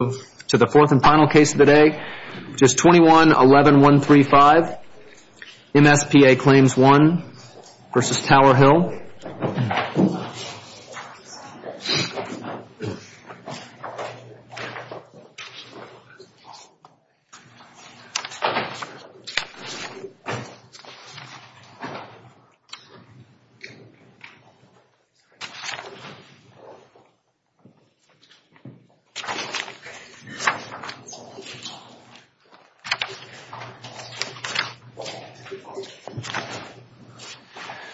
case of the day, which is 21-11-135, MSPA Claims 1 v. Tower Hill.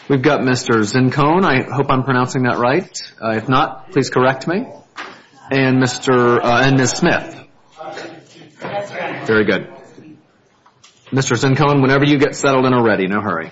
We've got Mr. Zincone. I hope I'm pronouncing that right. If not, please correct me. And Mr. and Ms. Smith. Very good. Mr. Zincone, whenever you get settled in already. No hurry.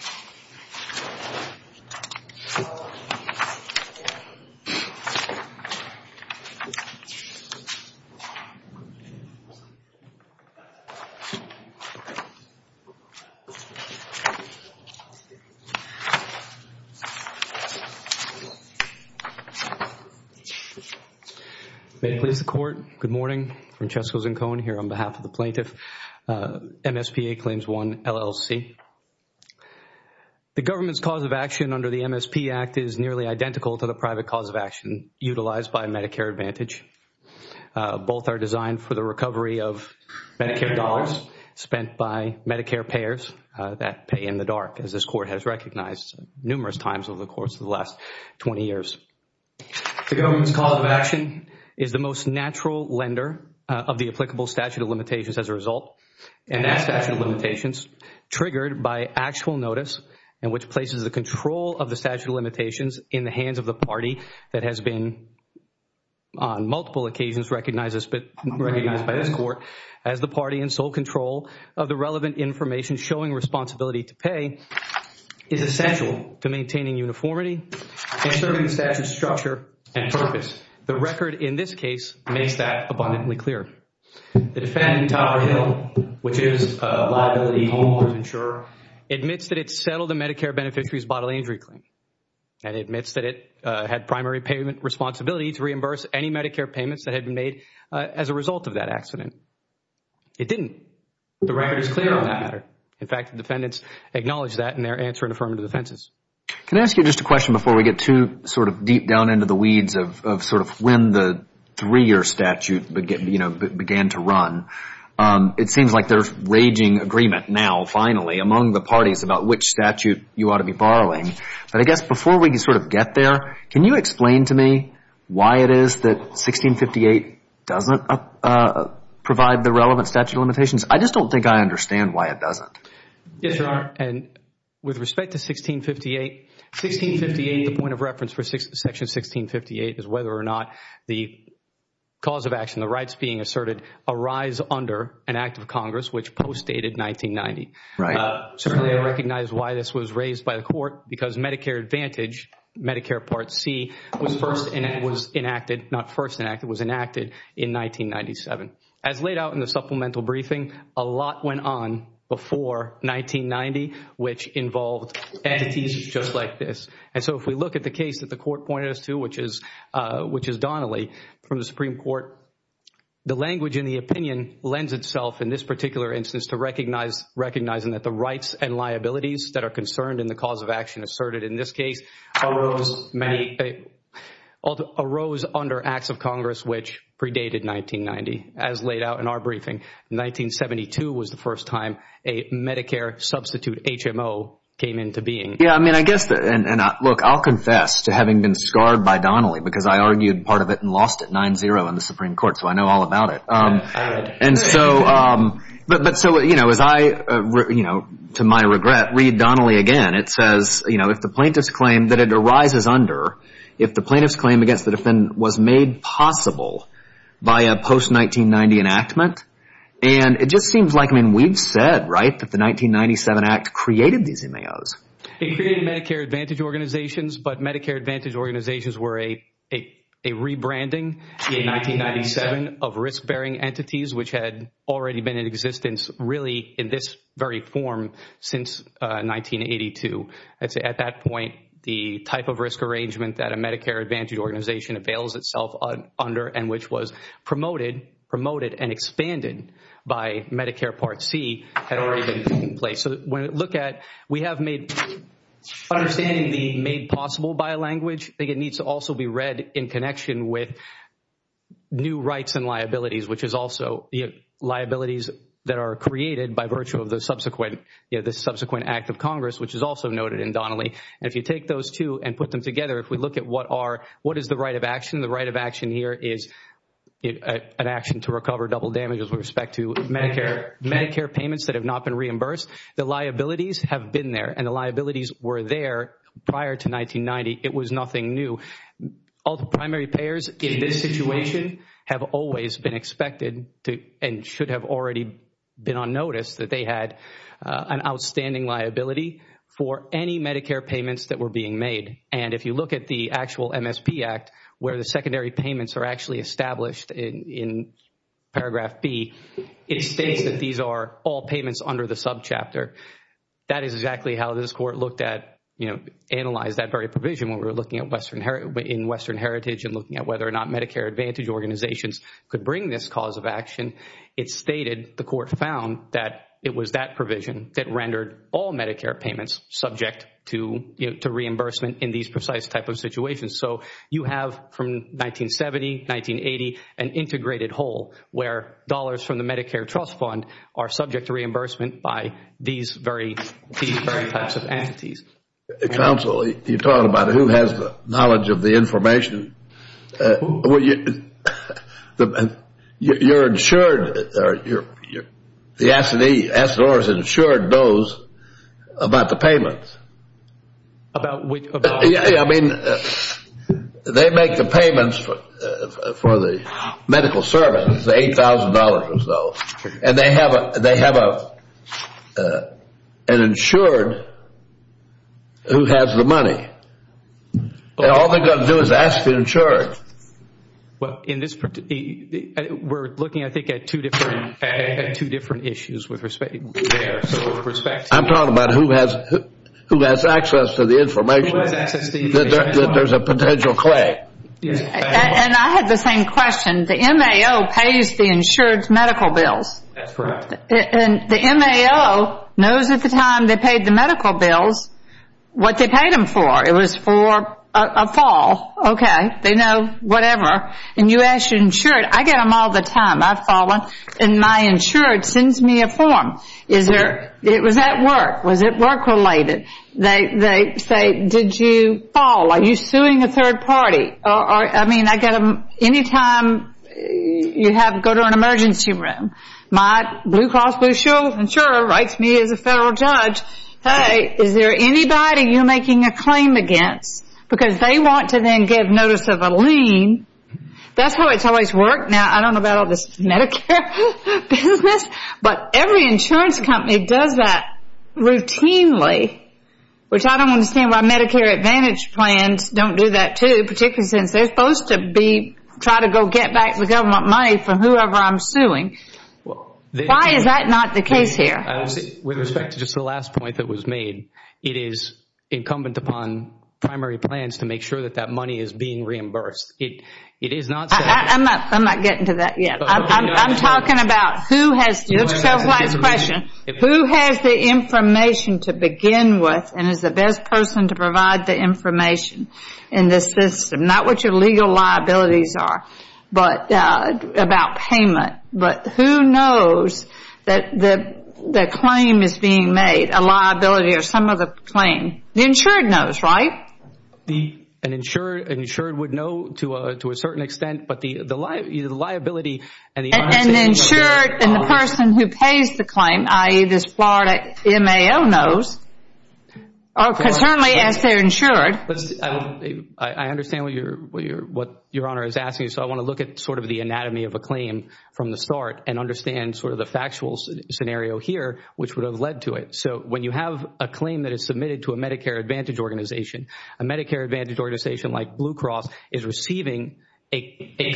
May it please the Court. Good morning. Francesco Zincone here on behalf of the plaintiff, MSPA Claims 1, LLC. The government's cause of action under the MSP Act is nearly identical to the one designed for the recovery of Medicare dollars spent by Medicare payers that pay in the dark, as this Court has recognized numerous times over the course of the last 20 years. The government's cause of action is the most natural lender of the applicable statute of limitations as a result, and that statute of limitations triggered by actual notice and which places the control of the statute of limitations in the hands of the government, recognized by this Court as the party in sole control of the relevant information showing responsibility to pay, is essential to maintaining uniformity and serving the statute's structure and purpose. The record in this case makes that abundantly clear. The defendant, Tower Hill, which is a liability homeowner's insurer, admits that it settled a Medicare beneficiary's bodily injury claim and admits that it had primary payment responsibility to reimburse any Medicare payments that had been made as a result of that accident. It didn't. The record is clear on the matter. In fact, the defendants acknowledge that in their answer in affirmative defenses. Can I ask you just a question before we get too sort of deep down into the weeds of sort of when the three-year statute began to run? It seems like there's raging agreement now finally among the parties about which statute you ought to be borrowing, but I guess before we sort of get there, can you explain to me why it is that 1658 doesn't provide the relevant statute of limitations? I just don't think I understand why it doesn't. Yes, Your Honor, and with respect to 1658, 1658, the point of reference for section 1658 is whether or not the cause of action, the rights being asserted, arise under an act of Congress which postdated 1990. Right. Certainly, I recognize why this was raised by the court because Medicare Advantage, Medicare Part C, was first enacted, not first enacted, was enacted in 1997. As laid out in the supplemental briefing, a lot went on before 1990 which involved entities just like this. And so if we look at the case that the court pointed us to which is Donnelly from the Supreme Court, the language in the opinion lends itself in this particular instance to recognizing that the rights and liabilities that are concerned in the cause of action asserted in this case arose under acts of Congress which predated 1990. As laid out in our briefing, 1972 was the first time a Medicare substitute HMO came into being. Yes, I mean, I guess, and look, I'll confess to having been scarred by Donnelly because I argued part of it and lost it 9-0 in the Supreme Court, so I know all about it. And so as I, to my regret, read Donnelly again, it says if the plaintiff's claim that it arises under, if the plaintiff's claim against the defendant was made possible by a post-1990 enactment, and it just seems like, I mean, we've said, right, that the 1997 act created these MAOs. It created Medicare Advantage organizations, but Medicare Advantage organizations were a rebranding in 1997 of risk-bearing entities which had already been in existence really in this very form since 1982. At that point, the type of risk arrangement that a Medicare Advantage organization avails itself under and which was promoted and expanded by Medicare Part C had already been in place. So when you look at, we have made, understanding the made possible by language, I think it needs to also be read in connection with new rights and liabilities, which is also liabilities that are created by virtue of the subsequent act of Congress, which is also noted in Donnelly. And if you take those two and put them together, if we look at what is the right of action, the right of action here is an action to recover double damages with respect to Medicare payments that have not been reimbursed. The liabilities have been there, and the liabilities were there prior to 1990. It was nothing new. All the primary payers in this situation have always been expected to and should have already been on notice that they had an outstanding liability for any Medicare payments that were being made. And if you look at the actual MSP Act where the secondary payments are actually established in paragraph B, it states that these are all payments under the subchapter. That is exactly how this Court looked at, you know, analyzed that very provision when we were looking in Western Heritage and looking at whether or not Medicare Advantage organizations could bring this cause of action. It stated, the Court found that it was that provision that rendered all Medicare payments subject to reimbursement in these precise type of situations. So you have from 1970, 1980, an are subject to reimbursement by these very types of entities. Counsel, you talk about who has the knowledge of the information. You are insured, the S&E, S&R is insured knows about the payments. About which? I mean, they make the payments for the medical service, $8,000 or so, and they have an insured who has the money. All they are going to do is ask the insured. In this, we are looking I think at two different issues with respect to there. I am talking about who has access to the information. That there is a potential claim. And I had the same question. The MAO pays the insured's medical bills. That's correct. And the MAO knows at the time they paid the medical bills what they paid them for. It was for a fall. Okay. They know whatever. And you ask your insured. I get them all the time. I have fallen. And my insured sends me a form. Is there, it was at work. Was it you fall? Are you suing a third party? I mean, I get them any time you have to go to an emergency room. My blue cross blue shield insurer writes me as a federal judge. Hey, is there anybody you are making a claim against? Because they want to then give notice of a lien. That's how it's always worked. Now, I don't know about all this Medicare business, but every insurance company does that routinely. Which I don't understand why Medicare Advantage plans don't do that too. Particularly since they are supposed to be, try to go get back the government money for whoever I am suing. Why is that not the case here? With respect to just the last point that was made. It is incumbent upon primary plans to make sure that that money is being reimbursed. It is not. I am not getting to that yet. I am talking about who has the information to begin with and is the best person to provide the information in this system. Not what your legal liabilities are, but about payment. But who knows that the claim is being made, a liability or some of the claim. The insured knows, right? An insured would know to a certain extent, but the liability and the uninsured... And the insured and the person who pays the claim, i.e. this Florida MAO knows. I understand what your Honor is asking. I want to look at the anatomy of a claim from the start and understand the factual scenario here, which would have led to it. When you have a claim that is submitted to a Medicare Advantage organization, a Medicare Advantage organization like Blue Cross is receiving a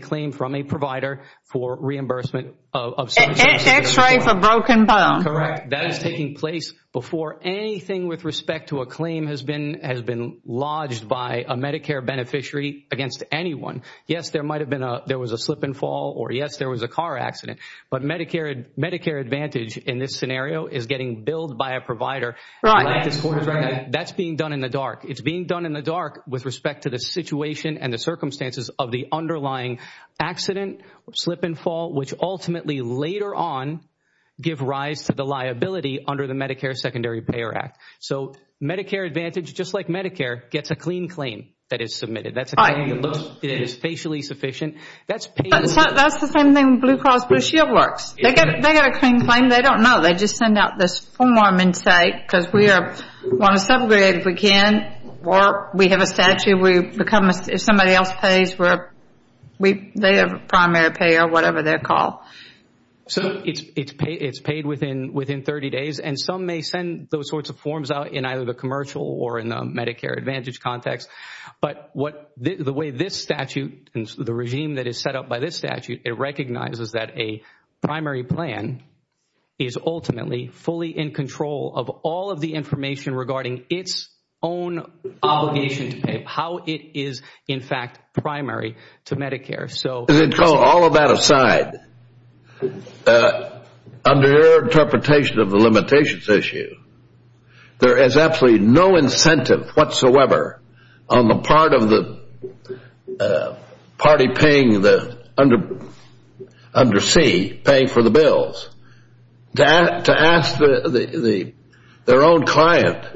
claim from a provider for reimbursement of services. X-ray for broken bone. Correct. That is taking place before anything with respect to a claim has been lodged by a Medicare beneficiary against anyone. Yes, there was a slip and fall or yes, there was a car accident, but Medicare Advantage in this scenario is getting billed by a provider. That's being done in the dark. It's being done in the dark with respect to the situation and the circumstances of the underlying accident, slip and fall, which ultimately later on give rise to the liability under the Medicare Secondary Payer Act. Medicare Advantage, just like Medicare, gets a clean claim that is submitted. That's a claim that is facially sufficient. That's the same thing with Blue Cross Blue Shield works. They get a clean claim. They don't know. They just send out this form and say, because we want to subgrade if we can or we have a statute. If somebody else pays, they have a primary pay or whatever they call. It's paid within 30 days. Some may send those sorts of forms out in either the commercial or in the Medicare Advantage context. The way this statute and the regime that is set up by this statute, it recognizes that a primary plan is ultimately fully in control of all of the information regarding its own obligation to pay, how it is in fact primary to Medicare. All of that aside, under your interpretation of the limitations issue, there is absolutely no incentive whatsoever on the part of the party under C paying for the bills to ask their own client,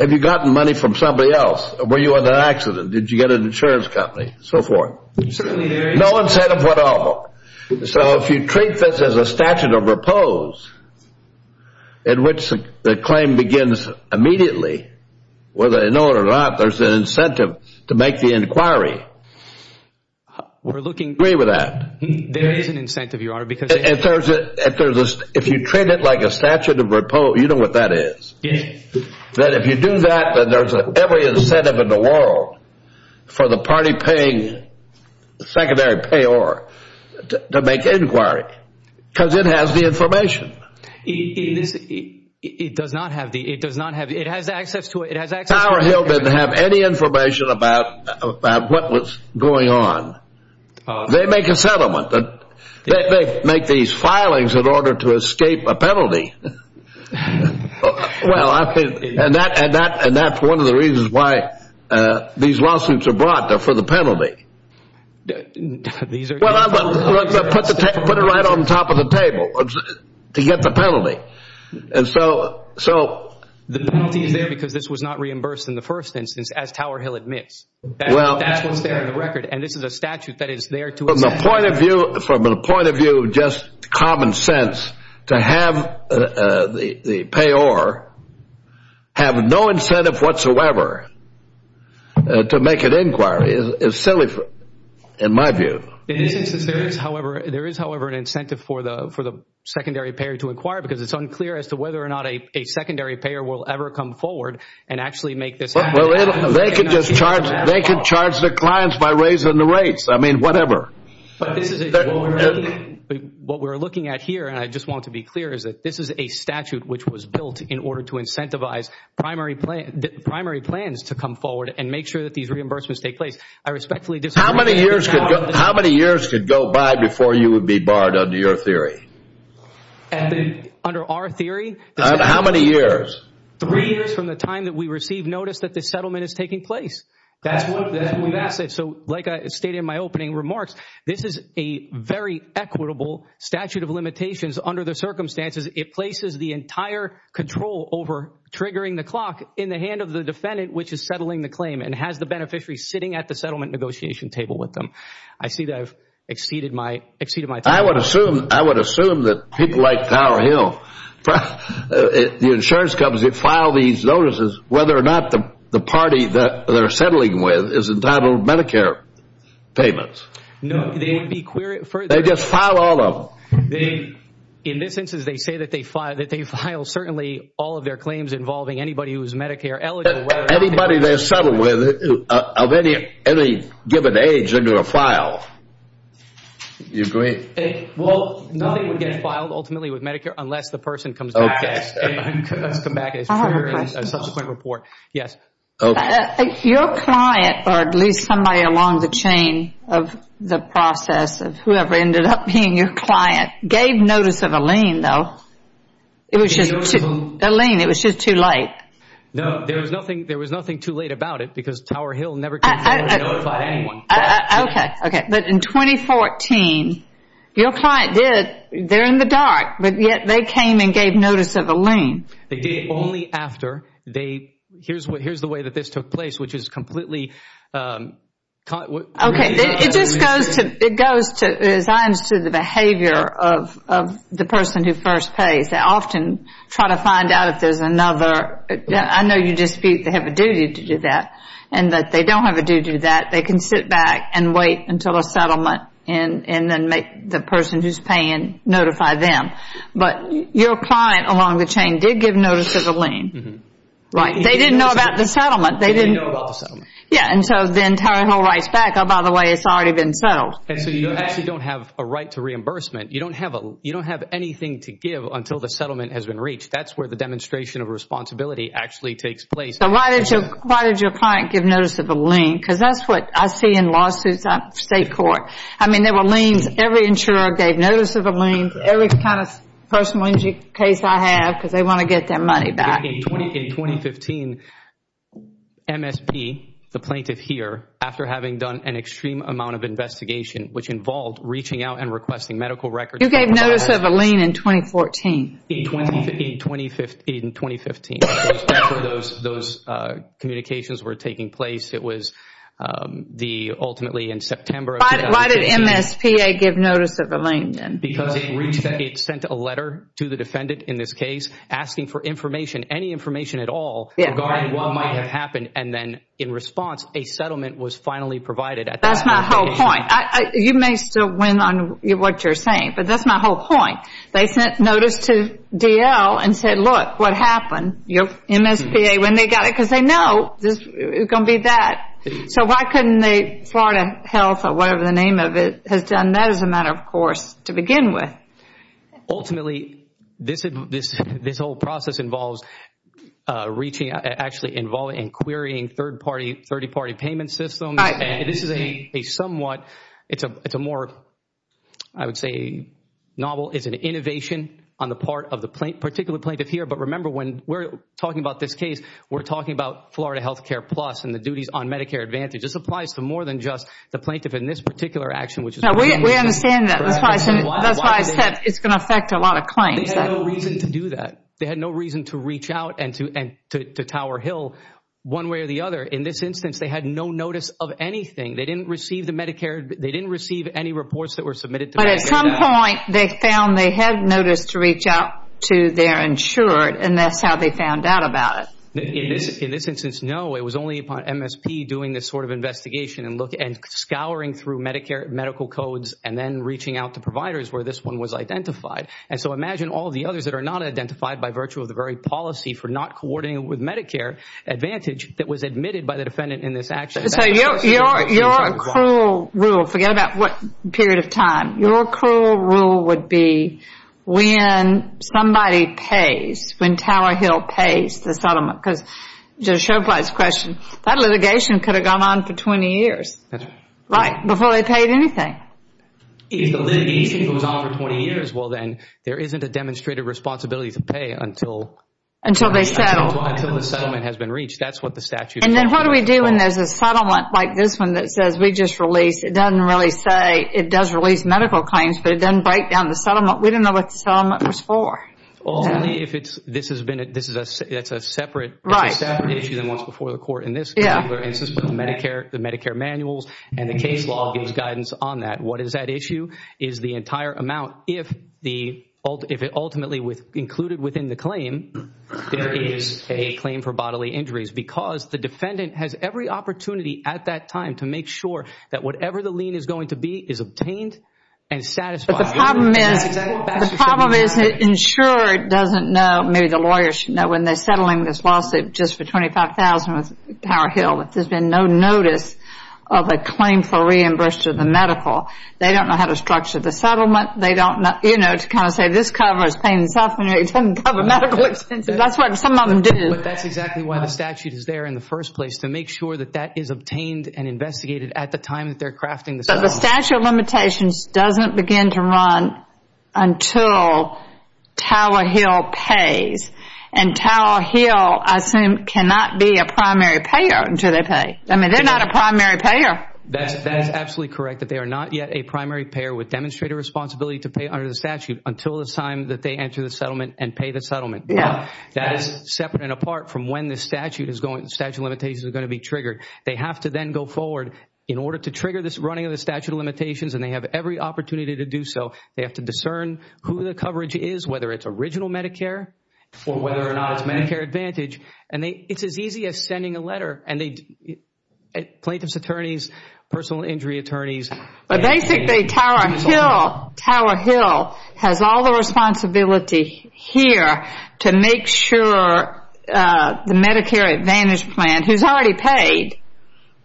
have you gotten money from somebody else? Were you in an accident? Did you get an insurance company? So forth. No incentive at all. So if you treat this as a statute of repose in which the claim begins immediately, whether they know it or not, there's an incentive to make the inquiry. Do you agree with that? If you treat it like a statute of repose, you know what that is. That if you do that, then there's every incentive in the world for the party paying secondary pay or to make inquiry. Because it has the information. It has access to it. Power Hill didn't have any information about what was going on. They make a settlement. They make these filings in order to escape a penalty. And that's one of the reasons why these lawsuits are brought, for the penalty. Put it right on top of the table. To get the penalty. The penalty is there because this was not reimbursed in the first instance, as Tower Hill admits. That was there in the record. And this is a statute that is there to assess. From the point of view of just common sense, to have the payor have no incentive whatsoever to make an inquiry is silly in my view. It isn't. There is, however, an incentive for the secondary payor to inquire because it's unclear as to whether or not a secondary payor will ever come forward and actually make this happen. They can charge the clients by raising the rates. I mean, whatever. What we're looking at here, and I just want to be clear, is that this is a statute which was built in order to incentivize primary plans to come forward and make sure that these reimbursements take place. I respectfully disagree with Tower Hill. How many years could go by before you would be barred under your theory? Under our theory? How many years? Three years from the time that we receive notice that this settlement is taking place. Like I stated in my opening remarks, this is a very equitable statute of limitations under the circumstances it places the entire control over triggering the clock in the hand of the defendant which is settling the claim and has the beneficiary sitting at the settlement negotiation table with them. I see that I've exceeded my time. I would assume that people like Tower Hill, the insurance companies that file these notices, whether or not the party that they're settling with is entitled Medicare payments. No, they would be queried for it. They just file all of them. In this instance, they say that they file certainly all of their claims involving anybody who is Medicare eligible. Anybody they settle with of any given age, they're going to file. You agree? Well, nothing would get filed ultimately with Medicare unless the person comes back. Okay. Let's come back and figure out a subsequent report. Yes. Okay. Your client, or at least somebody along the chain of the process of whoever ended up being your client, gave notice of a lien though. It was just a lien. It was just too late. No, there was nothing too late about it because Tower Hill never came forward and notified anyone. Okay. Okay. But in 2014, your client did, they're in the dark, but yet they came and gave notice of a lien. They did. But only after they, here's the way that this took place, which is completely... Okay. It just goes to, as I understood the behavior of the person who first pays, they often try to find out if there's another. I know you dispute they have a duty to do that and that they don't have a duty to do that. They can sit back and wait until a settlement and then make the person who's paying notify them. But your client along the chain did give notice of a lien, right? They didn't know about the settlement. They didn't know about the settlement. Yeah. And so then Tower Hill writes back, oh, by the way, it's already been settled. And so you actually don't have a right to reimbursement. You don't have anything to give until the settlement has been reached. That's where the demonstration of responsibility actually takes place. So why did your client give notice of a lien? Because that's what I see in lawsuits, state court. I mean, there were liens. Every insurer gave notice of a lien. Every kind of personal injury case I have, because they want to get their money back. In 2015, MSP, the plaintiff here, after having done an extreme amount of investigation, which involved reaching out and requesting medical records. You gave notice of a lien in 2014. In 2015, those communications were taking place. It was ultimately in September of 2015. Why did MSPA give notice of a lien then? Because it sent a letter to the defendant in this case asking for information, any information at all regarding what might have happened. And then in response, a settlement was finally provided at that time. That's my whole point. You may still win on what you're saying, but that's my whole point. They sent notice to DL and said, look, what happened? MSPA, when they got it, because they know it's going to be that. So why couldn't the Florida Health, or whatever the name of it, has done that as a matter of course to begin with? Ultimately, this whole process involves reaching out, actually involving and querying third party, 30-party payment systems. And this is a somewhat, it's a more, I would say, novel. It's an innovation on the part of the particular plaintiff here. But remember, when we're talking about this case, we're talking about Florida Health Care Plus and the duties on Medicare Advantage. This applies to more than just the plaintiff in this particular action, which is what we understand. We understand that. That's why I said it's going to affect a lot of claims. They had no reason to do that. They had no reason to reach out and to Tower Hill one way or the other. In this instance, they had no notice of anything. They didn't receive the Medicare, they didn't receive any reports that were submitted to Medicare. But at some point, they found they had noticed to reach out to their insured, and that's how they found out about it. In this instance, no. It was only upon MSP doing this sort of investigation and scouring through Medicare medical codes and then reaching out to providers where this one was identified. And so imagine all the others that are not identified by virtue of the very policy for not coordinating with Medicare Advantage that was admitted by the defendant in this action. So your accrual rule, forget about what period of time. Your accrual rule would be when somebody pays, when Tower Hill pays the settlement. Because to show by this question, that litigation could have gone on for 20 years, right, before they paid anything. If the litigation goes on for 20 years, well then, there isn't a demonstrated responsibility to pay until... Until they settle. Until the settlement has been reached. That's what the statute says. And then what do we do when there's a settlement like this one that says we just released, it doesn't really say, it does release medical claims, but it doesn't write down the settlement. We don't know what the settlement was for. Only if it's, this has been, it's a separate issue than what's before the court in this particular instance. But the Medicare manuals and the case law gives guidance on that. What is that issue? Is the entire amount, if it ultimately was included within the claim, there is a claim for bodily injuries. Because the defendant has every opportunity at that time to make sure that whatever the lien is going to be is obtained and satisfied. But the problem is, the problem is the insurer doesn't know, maybe the lawyers should know, when they're settling this lawsuit just for $25,000 with Tower Hill, that there's been no notice of a claim for reimbursement to the medical. They don't know how to structure the settlement. They don't know, you know, to kind of say this covers pain and suffering, it doesn't cover medical expenses. That's what some of them do. But that's exactly why the statute is there in the first place, to make sure that that is obtained and investigated at the time that they're crafting the settlement. But the statute of limitations doesn't begin to run until Tower Hill pays. And Tower Hill, I assume, cannot be a primary payer until they pay. I mean, they're not a primary payer. That is absolutely correct, that they are not yet a primary payer with demonstrated responsibility to pay under the statute until the time that they enter the settlement and pay the settlement. Yeah. That is separate and apart from when the statute of limitations is going to be triggered. They have to then go forward in order to trigger this running of the statute of limitations and they have every opportunity to do so. They have to discern who the coverage is, whether it's original Medicare or whether or not it's Medicare Advantage. And it's as easy as sending a letter. And plaintiff's attorneys, personal injury attorneys. But basically, Tower Hill has all the responsibility here to make sure the Medicare Advantage plan, who's already paid,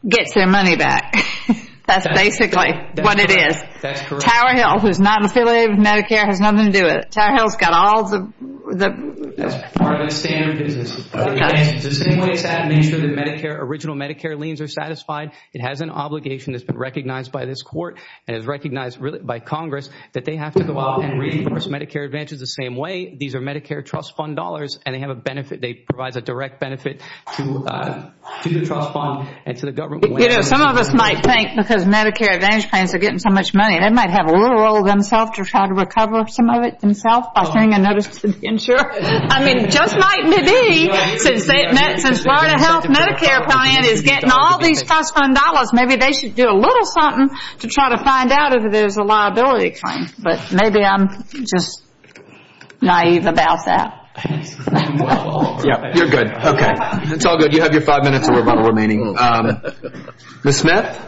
gets their money back. That's basically what it is. Tower Hill, who's not affiliated with Medicare, has nothing to do with it. Tower Hill's got all the... That's part of the standard business. The same way it's had to make sure that original Medicare liens are satisfied, it has an obligation that's been recognized by this court and is recognized by Congress, that they have to go out and reimburse Medicare Advantage the same way. These are Medicare trust fund dollars and they have a benefit. They provide a direct benefit to the trust fund and to the government. You know, some of us might think because Medicare Advantage plans are getting so much money, they might have a little role themselves to try to recover some of it themselves by paying another insurer. I mean, just might maybe since Florida Health Medicare plan is getting all these trust fund dollars, maybe they should do a little something to try to find out if there's a liability claim. But maybe I'm just naive about that. You're good. Okay. It's all good. You have your five minutes remaining. Ms. Smith?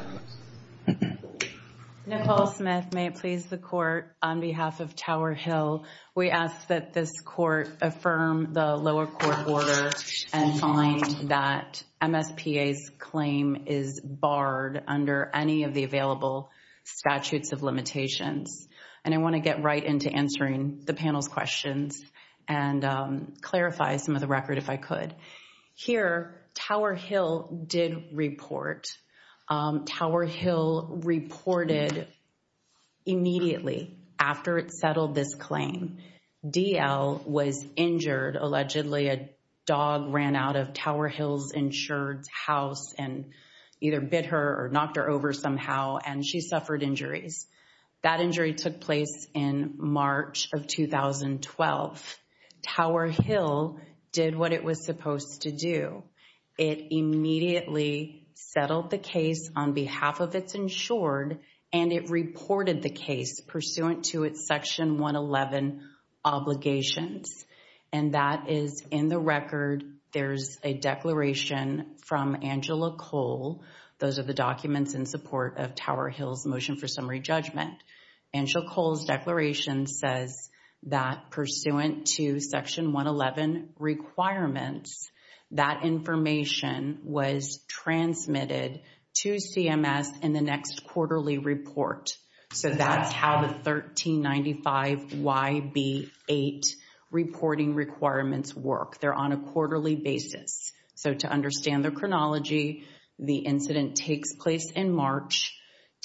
Nicole Smith. May it please the court, on behalf of Tower Hill, we ask that this court affirm the lower court order and find that MSPA's claim is barred under any of the available statutes of limitations. And I want to get right into answering the panel's questions and clarify some of the record if I could. Here, Tower Hill did report, Tower Hill reported immediately after it settled this claim, DL Hill was injured, allegedly a dog ran out of Tower Hill's insured house and either bit her or knocked her over somehow and she suffered injuries. That injury took place in March of 2012. Tower Hill did what it was supposed to do. It immediately settled the case on behalf of its insured and it reported the case pursuant to its Section 111 obligations. And that is in the record, there's a declaration from Angela Cole. Those are the documents in support of Tower Hill's motion for summary judgment. Angela Cole's declaration says that pursuant to Section 111 requirements, that information was transmitted to CMS in the next quarterly report. So that's how the 1395YB8 reporting requirements work. They're on a quarterly basis. So to understand the chronology, the incident takes place in March,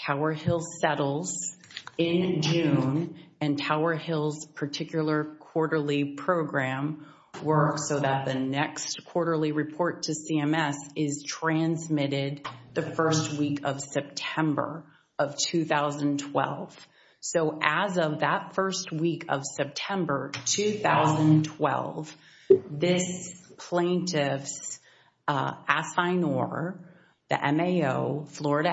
Tower Hill settles in June, and Tower Hill's particular quarterly program works so that the next quarterly report to CMS is transmitted the first week of September of 2012. So as of that first week of September 2012, this plaintiff's assignor, the MAO, Florida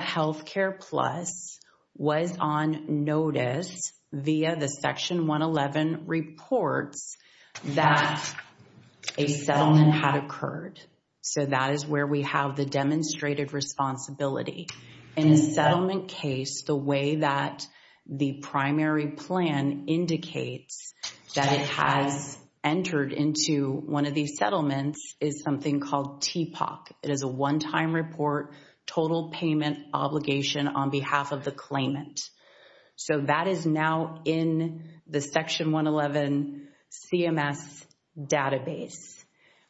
So that is where we have the demonstrated responsibility. In a settlement case, the way that the primary plan indicates that it has entered into one of these settlements is something called TPOC. It is a one-time report, total payment obligation on behalf of the claimant. So that is now in the Section 111 CMS database.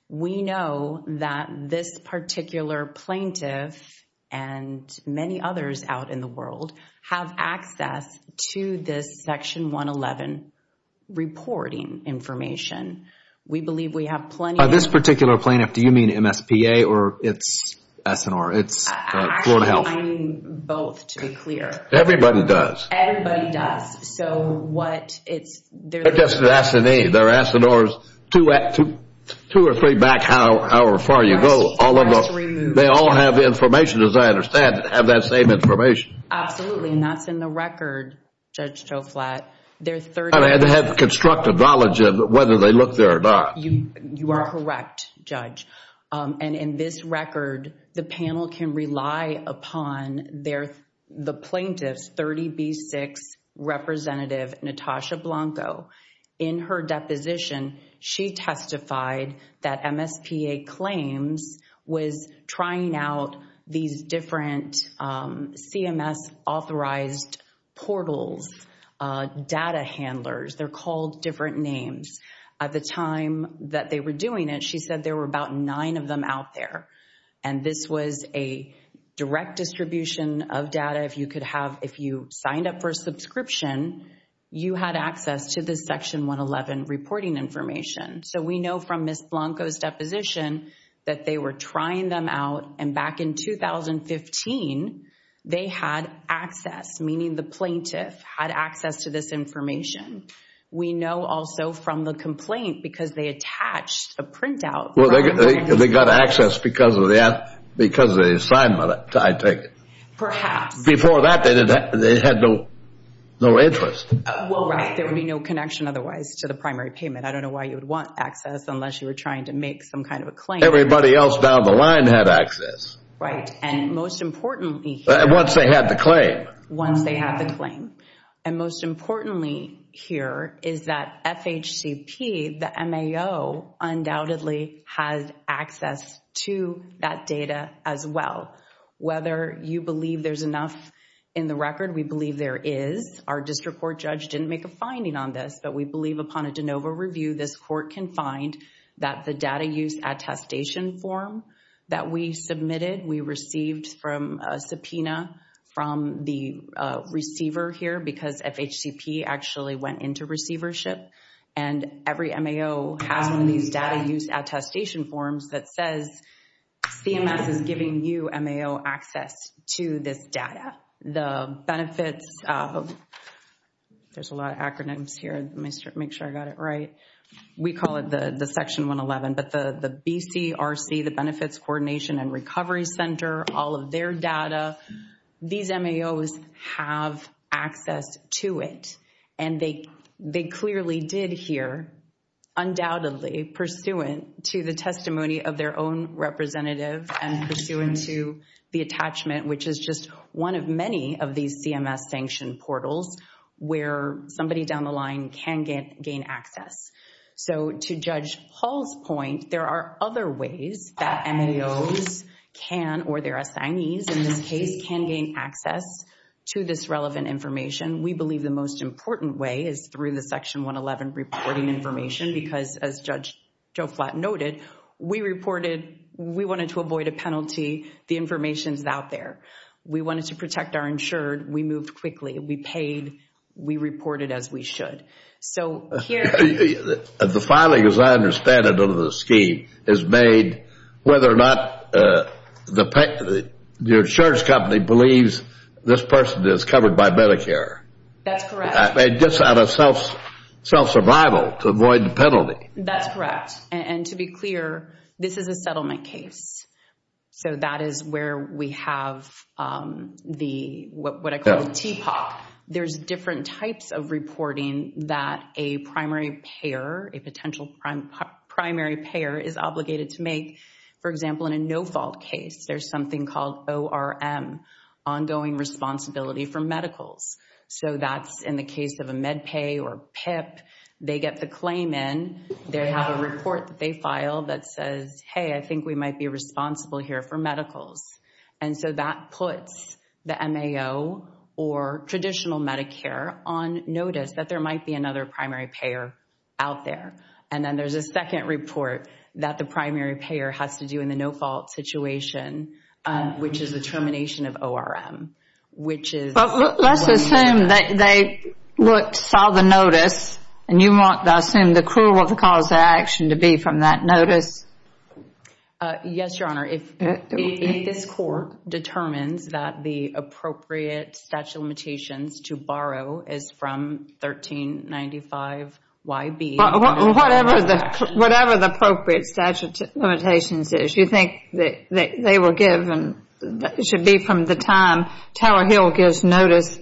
We know that this particular plaintiff, and many others out in the world, have access to this Section 111 reporting information. We believe we have plenty of... By this particular plaintiff, do you mean MSPA or its assignor? It's Florida Health. Actually, I mean both, to be clear. Everybody does. Everybody does. So what it's... They're just an assignee. They're assignors. Two or three back, however far you go, all of them, they all have the information, as I understand, and have that same information. Absolutely, and that's in the record, Judge Joflat. They're 30... I mean, they have constructive knowledge of whether they look there or not. You are correct, Judge. And in this record, the panel can rely upon the plaintiff's 30B6 representative, Natasha Blanco. In her deposition, she testified that MSPA claims was trying out these different CMS authorized portals, data handlers. They're called different names. At the time that they were doing it, she said there were about nine of them out there, and this was a direct distribution of data. If you could have... If you signed up for a subscription, you had access to this Section 111 reporting information. So we know from Ms. Blanco's deposition that they were trying them out, and back in 2015, they had access, meaning the plaintiff had access to this information. We know also from the complaint, because they attached a printout... Well, they got access because of the assignment, I take it. Perhaps. Before that, they had no interest. Well, right. There would be no connection otherwise to the primary payment. I don't know why you would want access unless you were trying to make some kind of a claim. Everybody else down the line had access. Right. And most importantly... Once they had the claim. Once they had the claim. And most importantly here is that FHCP, the MAO, undoubtedly has access to that data as well. Whether you believe there's enough in the record, we believe there is. Our district court judge didn't make a finding on this, but we believe upon a de novo review, this court can find that the data use attestation form that we submitted, we received from a subpoena from the receiver here, because FHCP actually went into receivership. And every MAO has one of these data use attestation forms that says CMS is giving you MAO access to this data. The benefits of... There's a lot of acronyms here. Let me make sure I got it right. We call it the Section 111, but the BCRC, the Benefits Coordination and Recovery Center, all of their data, these MAOs have access to it. And they clearly did here, undoubtedly pursuant to the testimony of their own representative and pursuant to the attachment, which is just one of many of these CMS sanctioned portals where somebody down the line can gain access. So to Judge Hall's point, there are other ways that MAOs can, or their assignees in this case, can gain access to this relevant information. We believe the most important way is through the Section 111 reporting information, because as Judge Joflat noted, we reported... We wanted to avoid a penalty. The information's out there. We wanted to protect our insured. We moved quickly. We paid. We reported as we should. So here... The filing, as I understand it, under the scheme, is made whether or not the insurance company believes this person is covered by Medicare. That's correct. It gets out of self-survival to avoid the penalty. That's correct. And to be clear, this is a settlement case. So that is where we have the, what I call the TPOC. There's different types of reporting that a primary payer, a potential primary payer, is obligated to make. For example, in a no-fault case, there's something called ORM, ongoing responsibility for medicals. So that's in the case of a MedPay or PIP, they get the claim in, they have a report that they file that says, hey, I think we might be responsible here for medicals. And so that puts the MAO, or traditional Medicare, on notice that there might be another primary payer out there. And then there's a second report that the primary payer has to do in the no-fault situation, which is the termination of ORM, which is... But let's assume that they saw the notice, and you want, I assume, the cruel of the cause of action to be from that notice. Yes, Your Honor, if this court determines that the appropriate statute of limitations to borrow is from 1395YB... Whatever the appropriate statute of limitations is, you think that they were given, should be from the time Taylor Hill gives notice,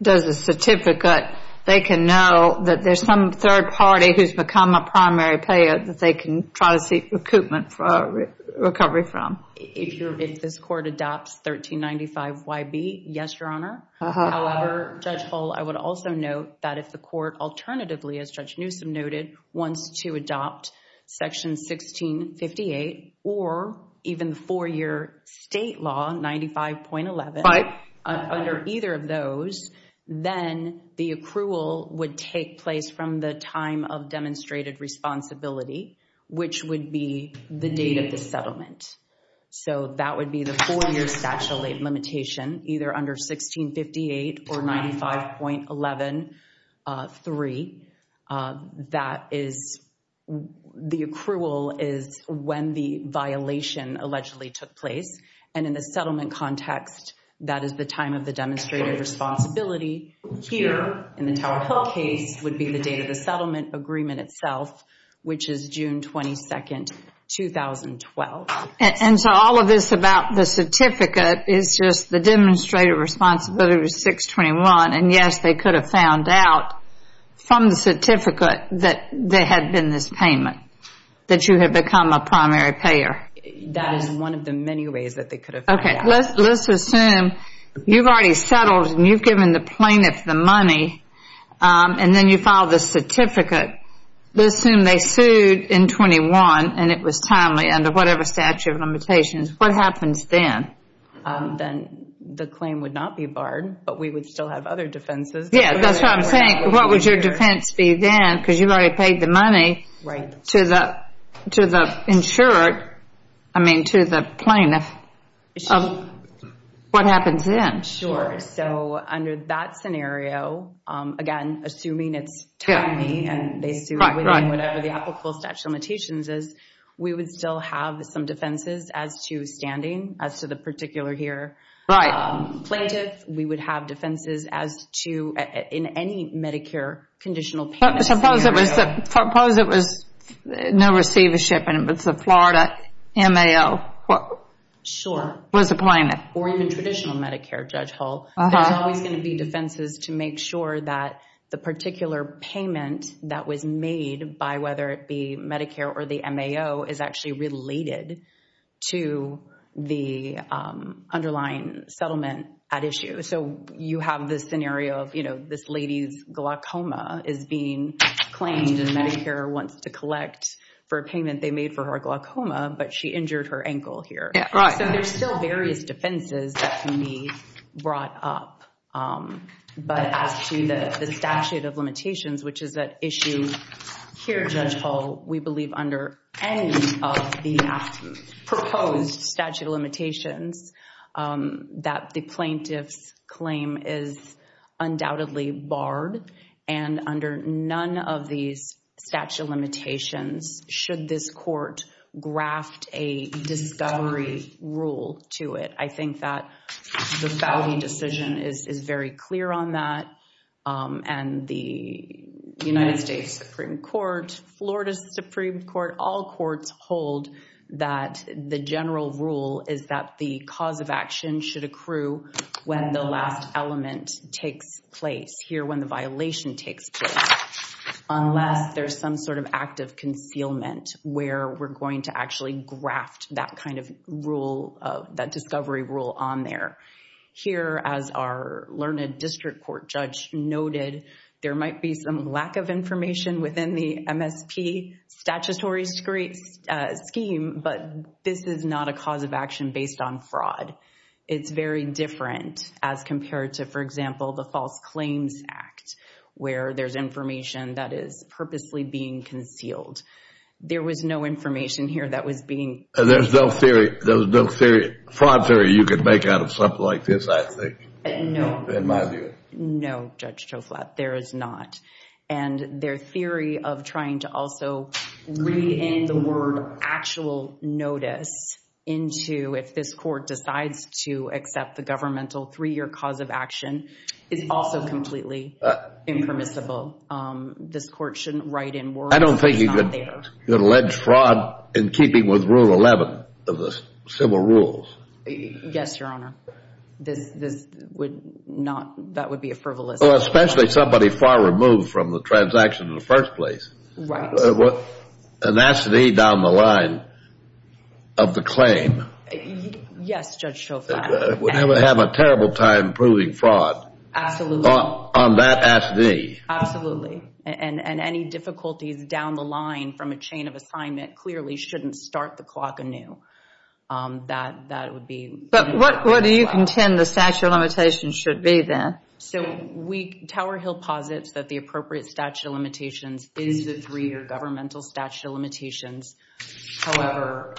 does the certificate, they can know that there's some third party who's become a primary payer that they can try to seek recoupment for, recovery from. If this court adopts 1395YB, yes, Your Honor. However, Judge Hull, I would also note that if the court, alternatively, as Judge Newsom noted, wants to adopt Section 1658, or even the four-year state law, 95.11, under either of those, then the accrual would take place from the time of demonstrated responsibility, so that would be the four-year statute of limitations, either under 1658 or 95.11.3. That is... The accrual is when the violation allegedly took place, and in the settlement context, that is the time of the demonstrated responsibility, here, in the Taylor Hill case, would be the settlement agreement itself, which is June 22nd, 2012. And so all of this about the certificate is just the demonstrated responsibility of 621, and yes, they could have found out from the certificate that there had been this payment, that you had become a primary payer. That is one of the many ways that they could have found out. Let's assume you've already settled, and you've given the plaintiff the money, and then you file the certificate. Let's assume they sued in 21, and it was timely, under whatever statute of limitations. What happens then? Then the claim would not be barred, but we would still have other defenses. Yes, that's what I'm saying. What would your defense be then, because you've already paid the money to the insured, I mean, to the plaintiff. What happens then? Sure. So under that scenario, again, assuming it's timely, and they sued within whatever the applicable statute of limitations is, we would still have some defenses as to standing, as to the particular here plaintiff. We would have defenses as to, in any Medicare conditional payment scenario. Suppose it was no receivership, and it was the Florida MAO, was a plaintiff. Or even traditional Medicare, Judge Hull, there's always going to be defenses to make sure that the particular payment that was made, by whether it be Medicare or the MAO, is actually related to the underlying settlement at issue. So you have this scenario of this lady's glaucoma is being claimed, and Medicare wants to collect for a payment they made for her glaucoma, but she injured her ankle here. Right. So there's still various defenses that can be brought up, but as to the statute of limitations, which is at issue here, Judge Hull, we believe under any of the proposed statute of limitations, that the plaintiff's claim is undoubtedly barred. And under none of these statute of limitations should this court graft a discovery rule to it. I think that the Foudy decision is very clear on that, and the United States Supreme Court, Florida Supreme Court, all courts hold that the general rule is that the cause of action should accrue when the last element takes place, here when the violation takes place, unless there's some sort of act of concealment where we're going to actually graft that kind of rule, that discovery rule on there. Here as our learned district court judge noted, there might be some lack of information within the MSP statutory scheme, but this is not a cause of action based on fraud. It's very different as compared to, for example, the False Claims Act, where there's information that is purposely being concealed. There was no information here that was being... There's no fraud theory you could make out of something like this, I think, in my view. No, Judge Toflat, there is not. And their theory of trying to also re-in the word actual notice into if this court decides to accept the governmental three-year cause of action is also completely impermissible. This court shouldn't write in words. I don't think you could allege fraud in keeping with Rule 11 of the civil rules. Yes, Your Honor. That would be a frivolous... Especially somebody far removed from the transaction in the first place. Right. An acide down the line of the claim... Yes, Judge Toflat. Would have a terrible time proving fraud... Absolutely.... on that acide. Absolutely, and any difficulties down the line from a chain of assignment clearly shouldn't start the clock anew. That would be... What do you contend the statute of limitations should be then? So, Tower Hill posits that the appropriate statute of limitations is the three-year governmental statute of limitations. However,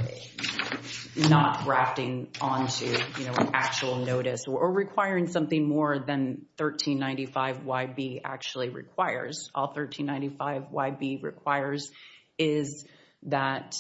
not grafting onto an actual notice or requiring something more than 1395YB actually requires. All 1395YB requires is that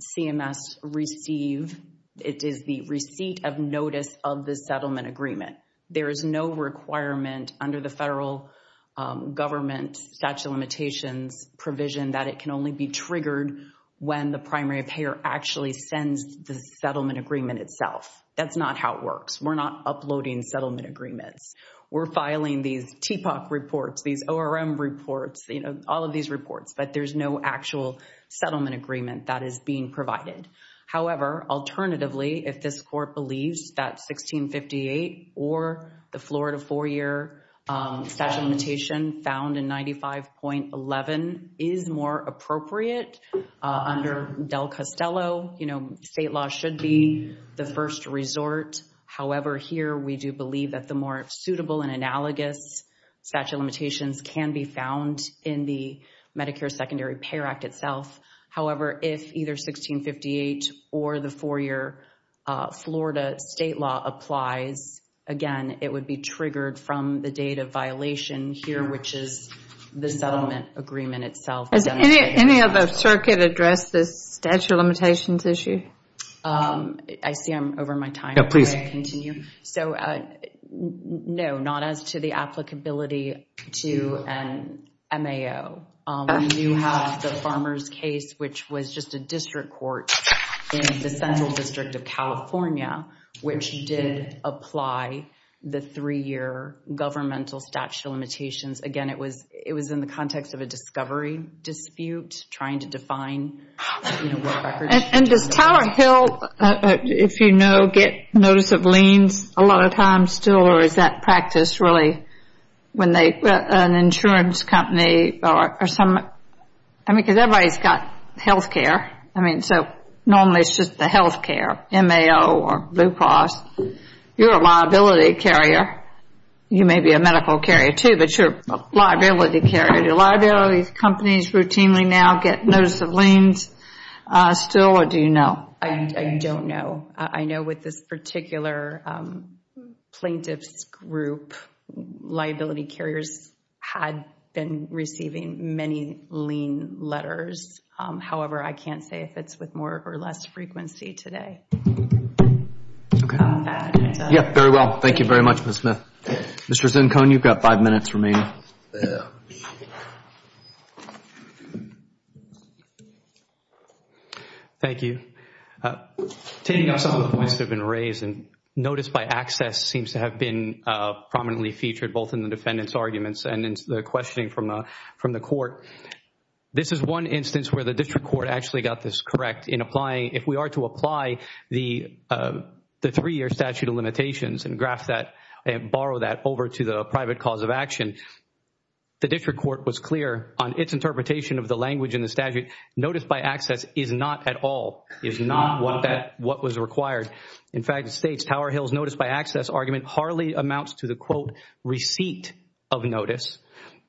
CMS receive... It is the receipt of notice of the settlement agreement. There is no requirement under the federal government statute of limitations provision that it can only be triggered when the primary payer actually sends the settlement agreement itself. That's not how it works. We're not uploading settlement agreements. We're filing these TPOC reports, these ORM reports, all of these reports, but there's no actual settlement agreement that is being provided. However, alternatively, if this court believes that 1658 or the Florida four-year statute of limitations found in 95.11 is more appropriate under Del Costello, you know, state law should be the first resort. However, here we do believe that the more suitable and analogous statute of limitations can be found in the Medicare Secondary Payer Act itself. However, if either 1658 or the four-year Florida state law applies, again, it would be triggered from the date of violation here, which is the settlement agreement itself. Has any of the circuit addressed this statute of limitations issue? I see I'm over my time. Please continue. So, no, not as to the applicability to an MAO. We do have the farmer's case, which was just a district court in the central district of California, which did apply the three-year governmental statute of limitations. Again, it was in the context of a discovery dispute trying to define, you know, what records. And does Tower Hill, if you know, get notice of liens a lot of times still, or is that I mean, because everybody's got health care. I mean, so normally it's just the health care, MAO or Blue Cross. You're a liability carrier. You may be a medical carrier too, but you're a liability carrier. Do liabilities companies routinely now get notice of liens still, or do you know? I don't know. I know with this particular plaintiff's group, liability carriers had been receiving many lien letters. However, I can't say if it's with more or less frequency today. Yeah, very well. Thank you very much, Ms. Smith. Mr. Zincone, you've got five minutes remaining. Thank you. Taking up some of the points that have been raised, and notice by access seems to have been prominently featured both in the defendant's arguments and in the questioning from the court. This is one instance where the district court actually got this correct in applying. If we are to apply the three-year statute of limitations and borrow that over to the private cause of action, the district court was clear on its interpretation of the language in the statute. Notice by access is not at all, is not what was required. In fact, it states Tower Hill's notice by access argument hardly amounts to the quote receipt of notice.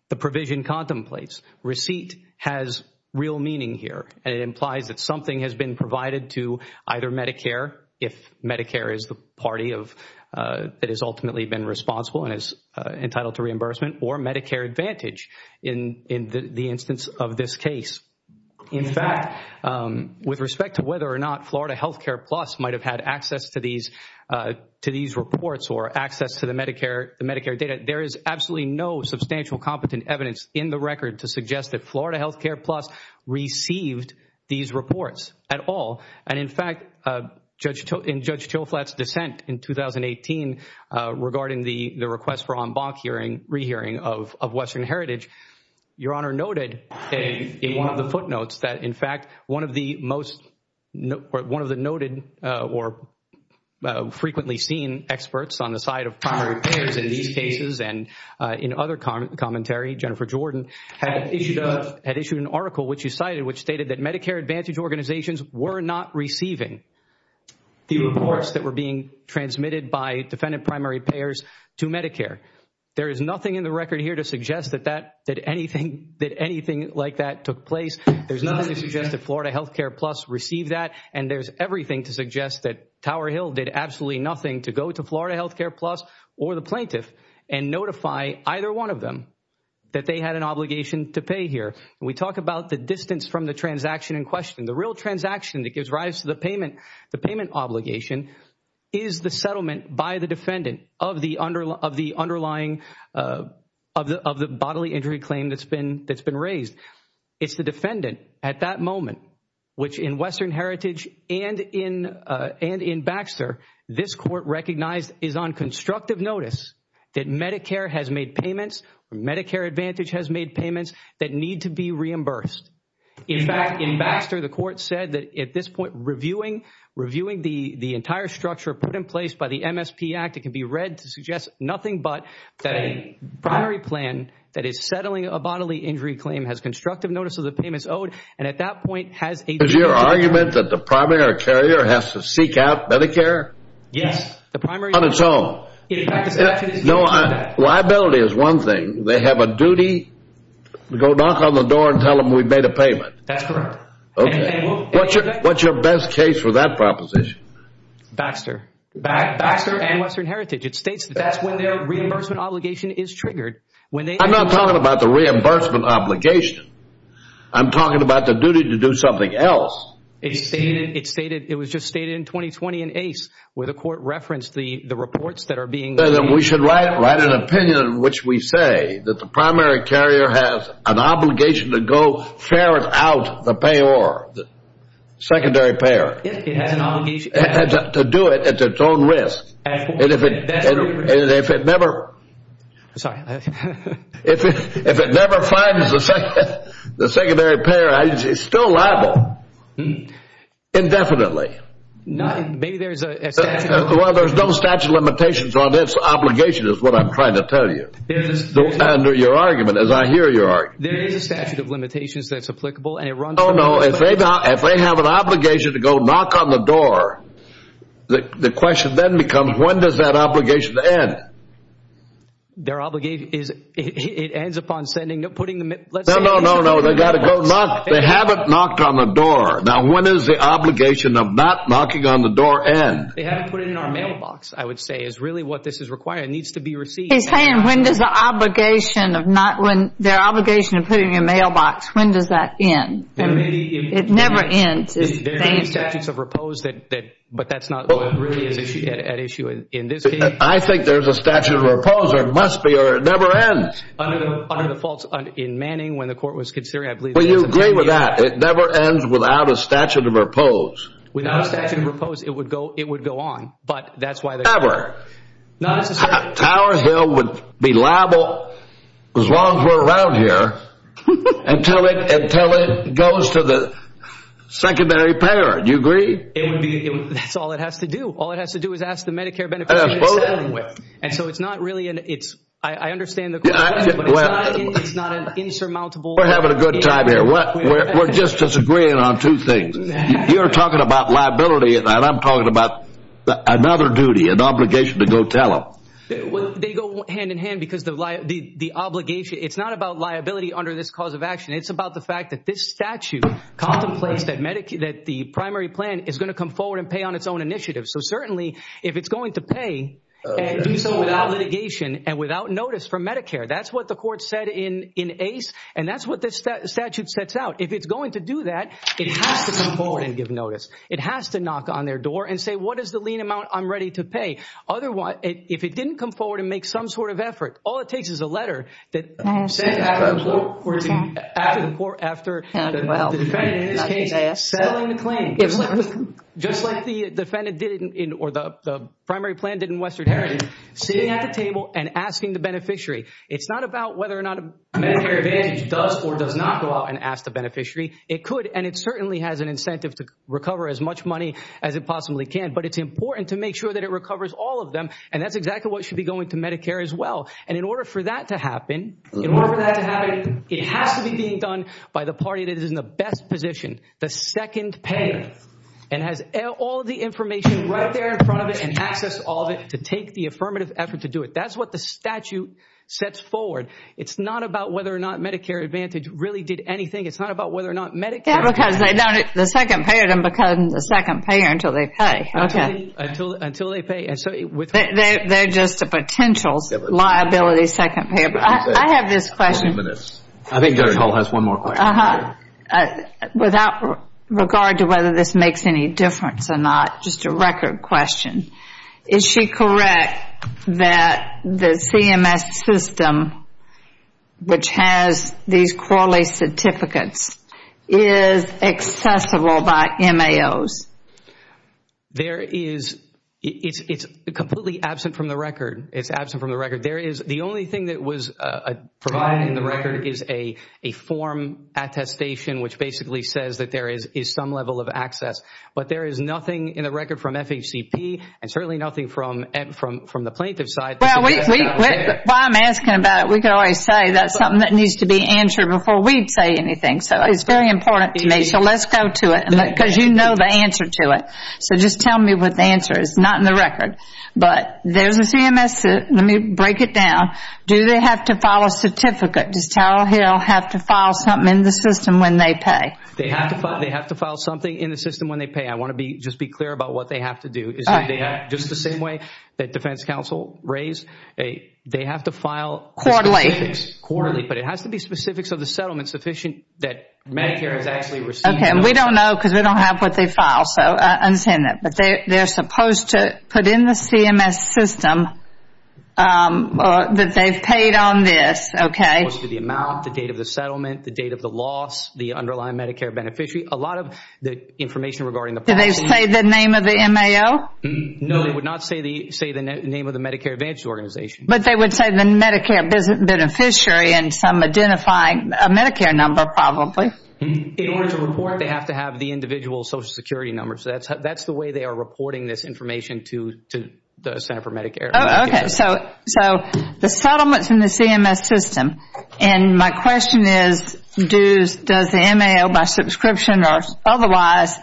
The provision contemplates receipt has real meaning here, and it implies that something has been provided to either Medicare, if Medicare is the party that has ultimately been responsible and is entitled to reimbursement, or Medicare Advantage in the instance of this case. In fact, with respect to whether or not Florida Healthcare Plus might have had access to these reports or access to the Medicare data, there is absolutely no substantial competent evidence in the record to suggest that Florida Healthcare Plus received these reports at all. And in fact, in Judge Chilflatt's dissent in 2018 regarding the request for en banc hearing, rehearing of Western Heritage, Your Honor noted in one of the footnotes that in primary payers in these cases and in other commentary, Jennifer Jordan had issued an article which you cited which stated that Medicare Advantage organizations were not receiving the reports that were being transmitted by defendant primary payers to Medicare. There is nothing in the record here to suggest that anything like that took place. There is nothing to suggest that Florida Healthcare Plus received that, and there is everything to suggest that Tower Hill did absolutely nothing to go to Florida Healthcare Plus or the plaintiff and notify either one of them that they had an obligation to pay here. We talk about the distance from the transaction in question. The real transaction that gives rise to the payment obligation is the settlement by the defendant of the underlying, of the bodily injury claim that has been raised. It's the defendant at that moment, which in Western Heritage and in Baxter, this court recognized is on constructive notice that Medicare has made payments or Medicare Advantage has made payments that need to be reimbursed. In fact, in Baxter, the court said that at this point, reviewing the entire structure put in place by the MSP Act, it can be read to suggest nothing but that a primary plan that is settling a bodily injury claim has constructive notice of the payments owed, and at that point has a- Is your argument that the primary carrier has to seek out Medicare? Yes. The primary- On its own? No, liability is one thing. They have a duty to go knock on the door and tell them we've made a payment. That's correct. What's your best case for that proposition? Baxter. Baxter and Western Heritage. It states that that's when their reimbursement obligation is triggered. I'm not talking about the reimbursement obligation. I'm talking about the duty to do something else. It stated, it was just stated in 2020 in ACE where the court referenced the reports that are being- We should write an opinion in which we say that the primary carrier has an obligation to go ferret out the payor, the secondary payer. To do it at its own risk, and if it never- Sorry. If it never finds the secondary payer, it's still liable indefinitely. Maybe there's a statute- Well, there's no statute of limitations on its obligation is what I'm trying to tell you. Under your argument, as I hear your argument. There is a statute of limitations that's applicable, and it runs- Oh no, if they have an obligation to go knock on the door, the question then becomes, when does that obligation end? Their obligation is, it ends upon sending, putting the- No, no, no, no, they got to go knock. They haven't knocked on the door. Now, when is the obligation of not knocking on the door end? They haven't put it in our mailbox, I would say, is really what this is requiring. It needs to be received. He's saying, when does the obligation of not, when their obligation of putting in your mailbox, when does that end? It never ends. There are many statutes of repose that, but that's not what really is at issue in this case. I think there's a statute of repose, or it must be, or it never ends. Under the faults in Manning, when the court was considering, I believe- Will you agree with that? It never ends without a statute of repose. Without a statute of repose, it would go on, but that's why- Never. Not necessarily. Tower Hill would be liable as long as we're around here, until it goes to the secondary payer. Do you agree? That's all it has to do. All it has to do is ask the Medicare beneficiary to settle with. I understand the question, but it's not an insurmountable- We're having a good time here. We're just disagreeing on two things. You're talking about liability, and I'm talking about another duty, an obligation to go tell them. They go hand in hand because the obligation, it's not about liability under this cause of action. It's about the fact that this statute contemplates that the primary plan is going to come forward and pay on its own initiative. Certainly, if it's going to pay and do so without litigation and without notice from Medicare, that's what the court said in ACE, and that's what this statute sets out. If it's going to do that, it has to come forward and give notice. It has to knock on their door and say, what is the lien amount I'm ready to pay? Otherwise, if it didn't come forward and make some sort of effort, all it takes is a letter that sent out of the court after the defendant in this case settling the claim. Just like the defendant did, or the primary plan did in Western Heritage, sitting at the table and asking the beneficiary. It's not about whether or not Medicare Advantage does or does not go out and ask the beneficiary. It could, and it certainly has an incentive to recover as much money as it possibly can, but it's important to make sure that it recovers all of them, and that's exactly what should be going to Medicare as well. And in order for that to happen, it has to be being done by the party that is in the best position, the second payer, and has all of the information right there in front of it, and access all of it to take the affirmative effort to do it. That's what the statute sets forward. It's not about whether or not Medicare Advantage really did anything. It's not about whether or not Medicare... Yeah, because they don't... The second payer doesn't become the second payer until they pay. Until they pay, and so with... They're just a potential liability second payer. I have this question. 20 minutes. I think Judge Hall has one more question. Without regard to whether this makes any difference or not, just a record question. Is she correct that the CMS system, which has these QALY certificates, is accessible by MAOs? There is... It's completely absent from the record. It's absent from the record. There is... The only thing that was provided in the record is a form attestation, which basically says that there is some level of access, but there is nothing in the record from FHCP, and certainly nothing from the plaintiff's side. While I'm asking about it, we could always say that's something that needs to be answered before we'd say anything, so it's very important to me, so let's go to it, because you know the answer to it, so just tell me what the answer is. Not in the record, but there's a CMS... Let me break it down. Do they have to file a certificate? Does Tower Hill have to file something in the system when they pay? They have to file something in the system when they pay. I want to just be clear about what they have to do. Just the same way that defense counsel raised, they have to file... Quarterly. Quarterly, but it has to be specifics of the settlement sufficient that Medicare has actually received... Okay, and we don't know because we don't have what they file, so I understand that, but they're supposed to put in the CMS system that they've paid on this, okay? The amount, the date of the settlement, the date of the loss, the underlying Medicare beneficiary, a lot of the information regarding the... Do they say the name of the MAO? No, they would not say the name of the Medicare Advantage Organization. But they would say the Medicare beneficiary and some identifying... A Medicare number, probably. In order to report, they have to have the individual Social Security number, so that's the way they are reporting this information to the Center for Medicare. Okay, so the settlements in the CMS system, and my question is, does the MAO by subscription or otherwise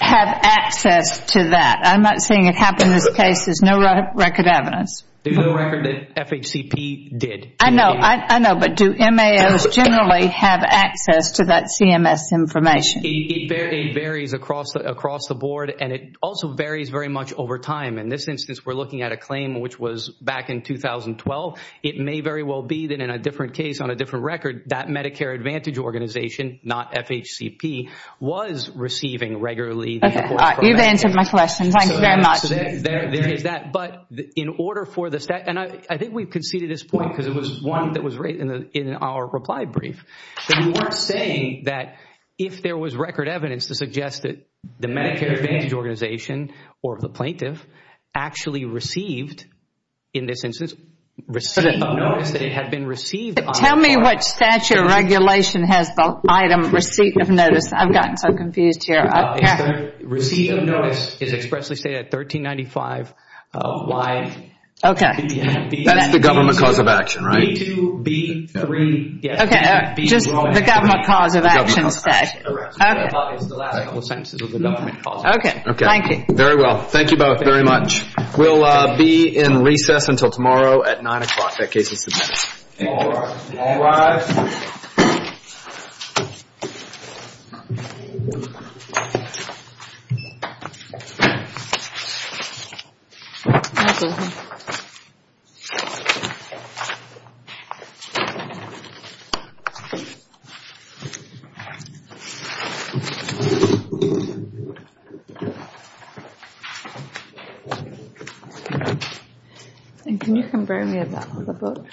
have access to that? I'm not seeing it happen in this case. There's no record evidence. There's no record that FHCP did. I know, I know, but do MAOs generally have access to that CMS information? It varies across the board, and it also varies very much over time. In this instance, we're looking at a claim which was back in 2012. It may very well be that in a different case, on a different record, that Medicare Advantage Organization, not FHCP, was receiving regularly... Okay, you've answered my question. Thank you very much. So there is that, but in order for the... And I think we've conceded this point because it was one that was written in our reply brief, that you weren't saying that if there was record evidence to suggest that the Medicare Advantage Organization or the plaintiff actually received, in this instance, received a notice that it had been received... Tell me what statute or regulation has the item receipt of notice. I've gotten so confused here. Receipt of notice is expressly stated at 1395 Y... Okay. That's the government cause of action, right? B2, B3, B4... Okay, just the government cause of action said. I thought it was the last couple sentences of the government cause of action. Okay, thank you. Very well. Thank you both very much. We'll be in recess until tomorrow at 9 o'clock. That case is submitted. And can you compare me to that on the book?